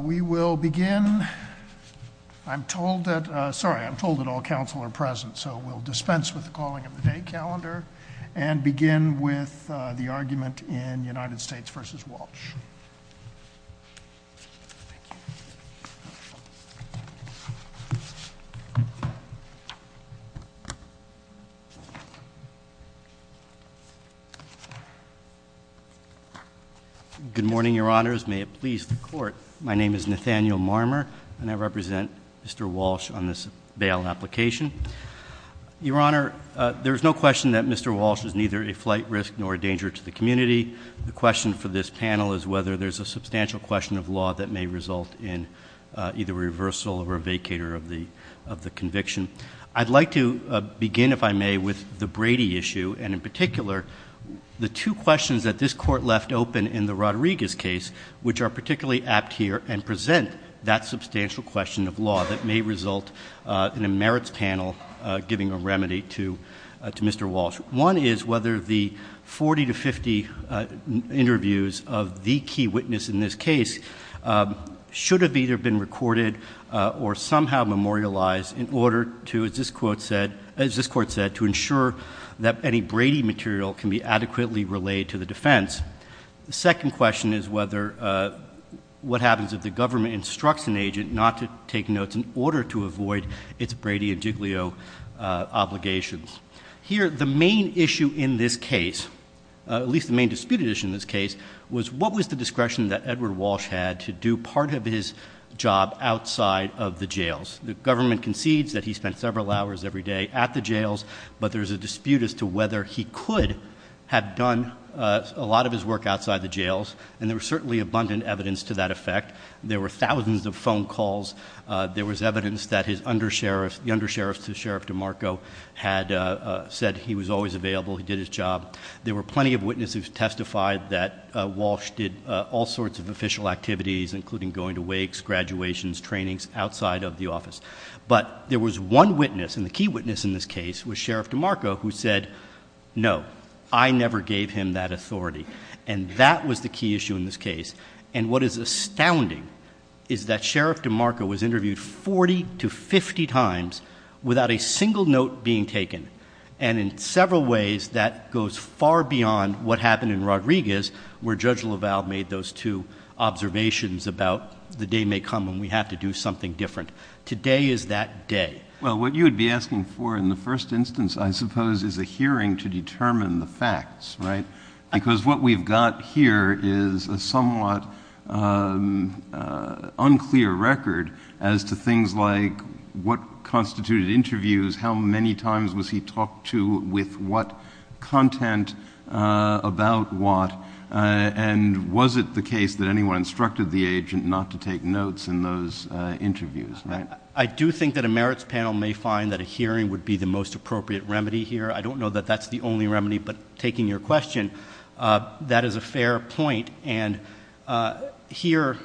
We will begin, I'm told that, sorry I'm told that all council are present so we'll dispense with the calling of the day calendar and begin with the argument in United States v. Walsh. Good morning, your honors, may it please the court, my name is Nathaniel Marmer and I represent Mr. Walsh on this bail application. Your honor, there's no question that Mr. Walsh is neither a flight risk nor a danger to the community. The question for this panel is whether there's a substantial question of law that may result in either reversal or a vacator of the conviction. I'd like to begin, if I may, with the Brady issue, and in particular, the two questions that this court left open in the Rodriguez case, which are particularly apt here and present that substantial question of law that may result in a merits panel giving a remedy to Mr. Walsh. One is whether the 40 to 50 interviews of the key witness in this case should have either been recorded or somehow memorialized in order to, as this court said, to ensure that any Brady material can be adequately relayed to the defense. The second question is what happens if the government instructs an agent not to take notes in order to avoid its Brady and Giglio obligations. Here, the main issue in this case, at least the main disputed issue in this case, was what was the discretion that Edward Walsh had to do part of his job outside of the jails. The government concedes that he spent several hours every day at the jails, but there's a dispute as to whether he could have done a lot of his work outside the jails. And there was certainly abundant evidence to that effect. There were thousands of phone calls. There was evidence that the under-sheriff to Sheriff DeMarco had said he was always available, he did his job. There were plenty of witnesses who testified that Walsh did all sorts of official activities, including going to wakes, graduations, trainings outside of the office. But there was one witness, and the key witness in this case was Sheriff DeMarco, who said, no, I never gave him that authority. And that was the key issue in this case. And what is astounding is that Sheriff DeMarco was interviewed 40 to 50 times without a single note being taken. And in several ways, that goes far beyond what happened in Rodriguez, where Judge LaValle made those two observations about the day may come when we have to do something different. Today is that day. Well, what you'd be asking for in the first instance, I suppose, is a hearing to determine the facts, right? Because what we've got here is a somewhat unclear record as to things like what constituted interviews, how many times was he talked to, with what content, about what. And was it the case that anyone instructed the agent not to take notes in those interviews, right? I do think that a merits panel may find that a hearing would be the most appropriate remedy here. I don't know that that's the only remedy, but taking your question, that is a fair point. And here,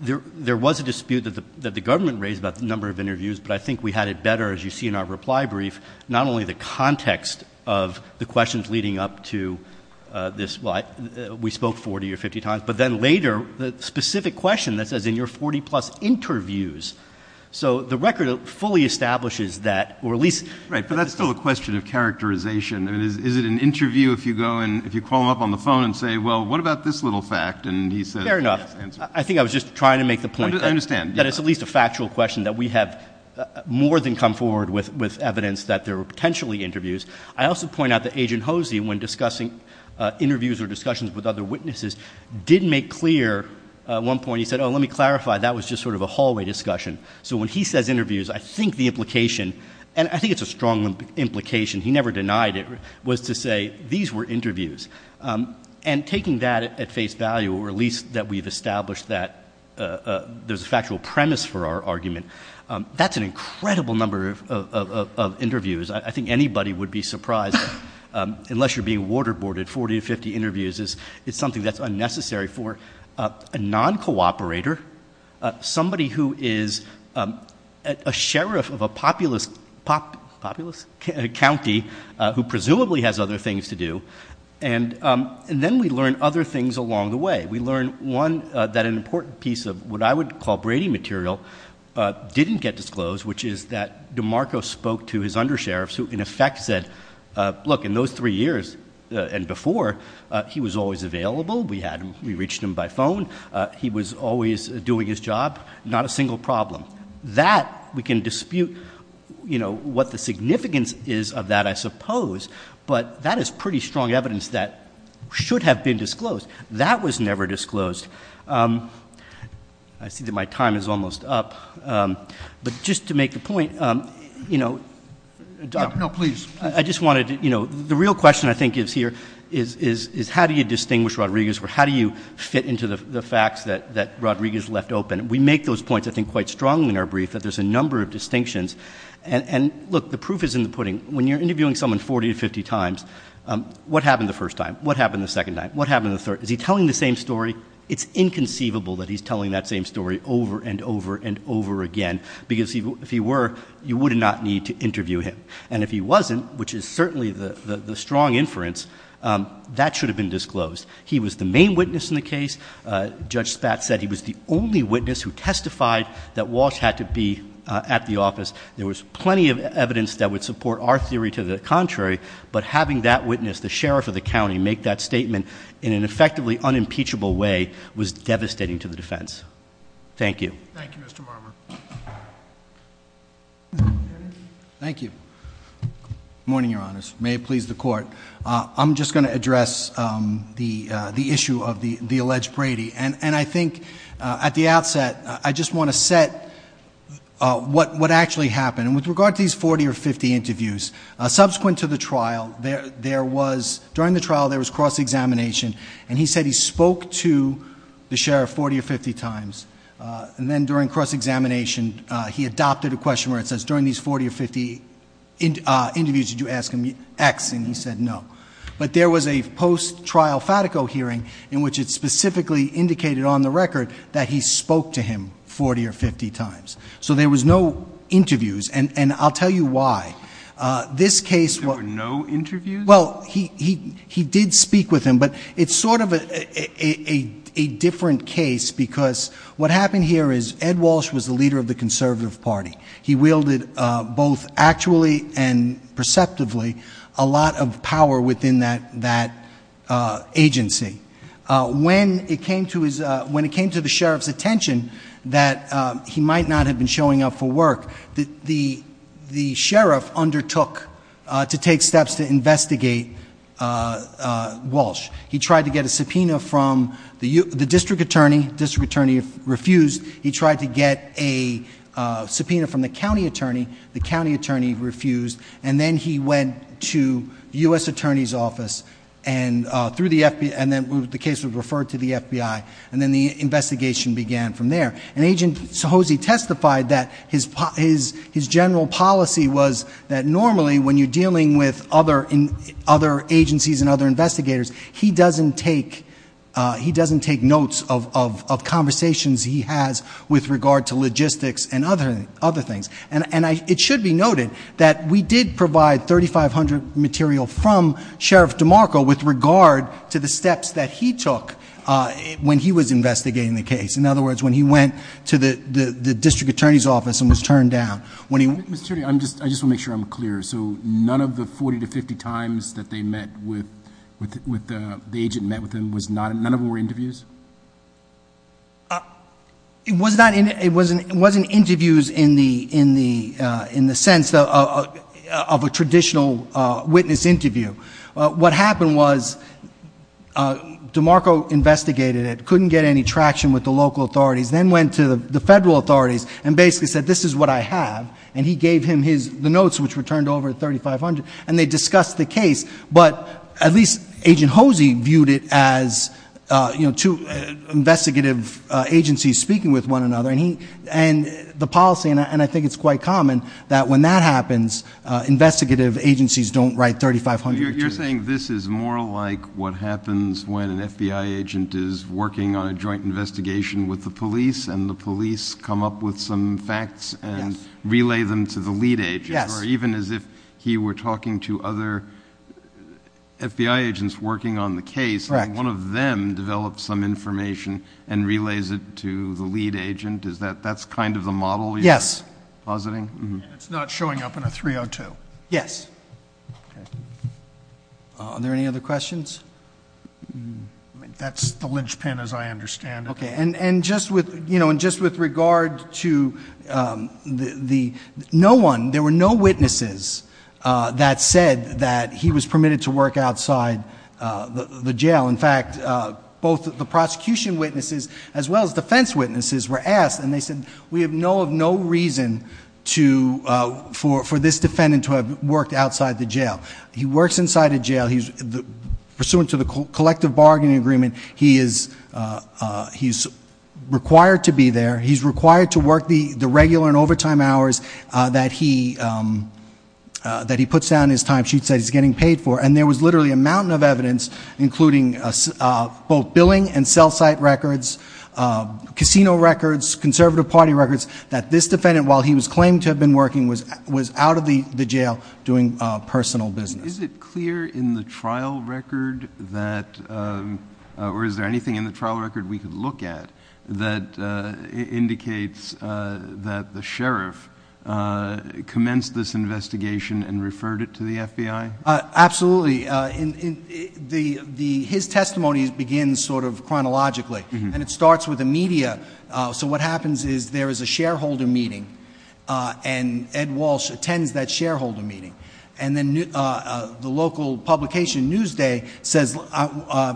there was a dispute that the government raised about the number of interviews, but I think we had it better, as you see in our reply brief, not only the context of the questions leading up to this. Well, we spoke 40 or 50 times, but then later, the specific question that says in your 40 plus interviews. So the record fully establishes that, or at least- It's also a question of characterization. I mean, is it an interview if you go and, if you call him up on the phone and say, well, what about this little fact? And he says- Fair enough. I think I was just trying to make the point- I understand. That it's at least a factual question that we have more than come forward with evidence that there were potentially interviews. I also point out that Agent Hosey, when discussing interviews or discussions with other witnesses, did make clear at one point, he said, oh, let me clarify, that was just sort of a hallway discussion. So when he says interviews, I think the implication, and I think it's a strong implication, he never denied it, was to say, these were interviews. And taking that at face value, or at least that we've established that there's a factual premise for our argument. That's an incredible number of interviews. I think anybody would be surprised, unless you're being waterboarded, 40 to 50 interviews is something that's unnecessary for a non-cooperator. Somebody who is a sheriff of a populous county, who presumably has other things to do. And then we learn other things along the way. We learn, one, that an important piece of what I would call Brady material didn't get disclosed, which is that DeMarco spoke to his undersheriffs, who in effect said, look, in those three years and before, he was always available. We reached him by phone. He was always doing his job. Not a single problem. That we can dispute what the significance is of that, I suppose. But that is pretty strong evidence that should have been disclosed. That was never disclosed. I see that my time is almost up, but just to make the point. You know, I just wanted to, you know, the real question I think is here, is how do you distinguish Rodriguez, or how do you fit into the facts that Rodriguez left open? We make those points, I think, quite strong in our brief, that there's a number of distinctions. And look, the proof is in the pudding. When you're interviewing someone 40 to 50 times, what happened the first time? What happened the second time? What happened the third? Is he telling the same story? It's inconceivable that he's telling that same story over and over and over again. Because if he were, you would not need to interview him. And if he wasn't, which is certainly the strong inference, that should have been disclosed. He was the main witness in the case. Judge Spatz said he was the only witness who testified that Walsh had to be at the office. There was plenty of evidence that would support our theory to the contrary. But having that witness, the sheriff of the county, make that statement in an effectively unimpeachable way was devastating to the defense. Thank you. Thank you, Mr. Marmer. Thank you. Morning, your honors. May it please the court. I'm just going to address the issue of the alleged Brady. And I think at the outset, I just want to set what actually happened. And with regard to these 40 or 50 interviews, subsequent to the trial, during the trial there was cross-examination. And he said he spoke to the sheriff 40 or 50 times. And then during cross-examination, he adopted a question where it says, during these 40 or 50 interviews, did you ask him X? And he said no. But there was a post-trial Fatico hearing in which it specifically indicated on the record that he spoke to him 40 or 50 times. So there was no interviews, and I'll tell you why. This case- There were no interviews? Well, he did speak with him, but it's sort of a different case, because what happened here is Ed Walsh was the leader of the conservative party. He wielded both actually and perceptively a lot of power within that agency. When it came to the sheriff's attention that he might not have been showing up for the trial, he tried to investigate Walsh, he tried to get a subpoena from the district attorney, district attorney refused. He tried to get a subpoena from the county attorney, the county attorney refused. And then he went to the US Attorney's Office, and the case was referred to the FBI, and then the investigation began from there. And Agent Sahozy testified that his general policy was that normally, when you're dealing with other agencies and other investigators, he doesn't take notes of conversations he has with regard to logistics and other things. And it should be noted that we did provide 3,500 material from Sheriff DeMarco with regard to the steps that he took when he was investigating the case. In other words, when he went to the district attorney's office and was turned down. When he- Mr. Chairman, I just want to make sure I'm clear. So none of the 40 to 50 times that the agent met with him, none of them were interviews? It wasn't interviews in the sense of a traditional witness interview. What happened was DeMarco investigated it, couldn't get any traction with the local authorities. Then went to the federal authorities and basically said, this is what I have. And he gave him the notes, which were turned over 3,500, and they discussed the case. But at least Agent Hosey viewed it as two investigative agencies speaking with one another. And the policy, and I think it's quite common, that when that happens, investigative agencies don't write 3,500. You're saying this is more like what happens when an FBI agent is working on a joint investigation with the police. And the police come up with some facts and relay them to the lead agent. Or even as if he were talking to other FBI agents working on the case. And one of them develops some information and relays it to the lead agent. Is that, that's kind of the model you're- Yes. Positing? It's not showing up in a 302. Yes. Are there any other questions? That's the linchpin as I understand it. Okay, and just with regard to the, no one, there were no witnesses that said that he was permitted to work outside the jail. In fact, both the prosecution witnesses as well as defense witnesses were asked, and they said, we have no reason for this defendant to have worked outside the jail. He works inside a jail, pursuant to the collective bargaining agreement, he is required to be there. He's required to work the regular and overtime hours that he puts down in his time sheet that he's getting paid for. And there was literally a mountain of evidence, including both billing and cell site records, casino records, conservative party records. That this defendant, while he was claimed to have been working, was out of the jail doing personal business. Is it clear in the trial record that, or is there anything in the trial record we could look at that indicates that the sheriff commenced this investigation and referred it to the FBI? Absolutely. His testimony begins sort of chronologically, and it starts with the media. So what happens is there is a shareholder meeting, and Ed Walsh attends that shareholder meeting. And then the local publication, Newsday,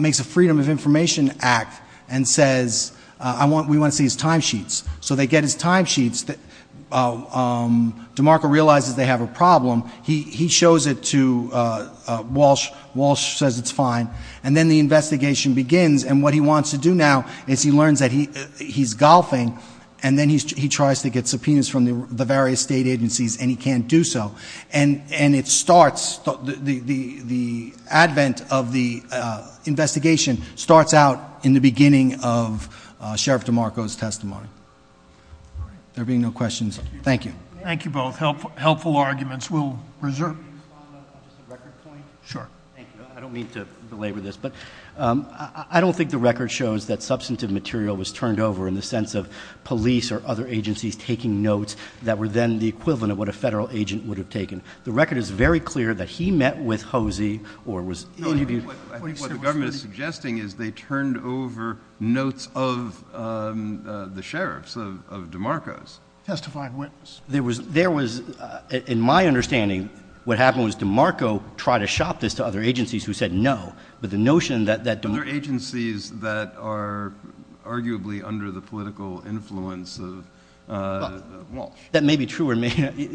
makes a Freedom of Information Act and says, we want to see his time sheets. So they get his time sheets, DeMarco realizes they have a problem, he shows it to Walsh, Walsh says it's fine. And then the investigation begins, and what he wants to do now is he learns that he's golfing, and then he tries to get subpoenas from the various state agencies, and he can't do so. And it starts, the advent of the investigation starts out in the beginning of Sheriff DeMarco's testimony. There being no questions, thank you. Thank you both. Helpful arguments. We'll reserve. Can you respond on just a record point? Sure. I don't mean to belabor this, but I don't think the record shows that substantive material was turned over in the sense of police or other agencies taking notes that were then the equivalent of what a federal agent would have taken. The record is very clear that he met with Hosey or was interviewed. I think what the government is suggesting is they turned over notes of the sheriffs, of DeMarco's. Testifying witness. There was, in my understanding, what happened was DeMarco tried to shop this to other agencies who said no. But the notion that- Other agencies that are arguably under the political influence of Walsh. That may be true,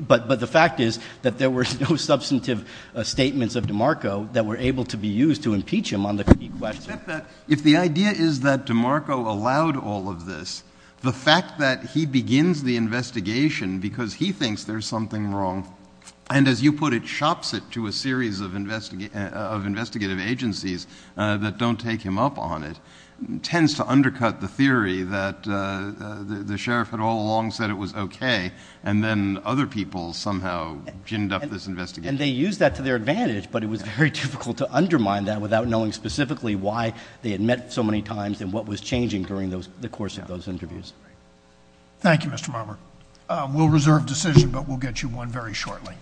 but the fact is that there were no substantive statements of DeMarco that were able to be used to impeach him on the question. If the idea is that DeMarco allowed all of this, the fact that he begins the investigation because he thinks there's something wrong. And as you put it, shops it to a series of investigative agencies that don't take him up on it. Tends to undercut the theory that the sheriff had all along said it was okay. And then other people somehow ginned up this investigation. And they used that to their advantage. But it was very difficult to undermine that without knowing specifically why they had met so many times and what was changing during the course of those interviews. Thank you, Mr. Marmer. We'll reserve decision, but we'll get you one very shortly.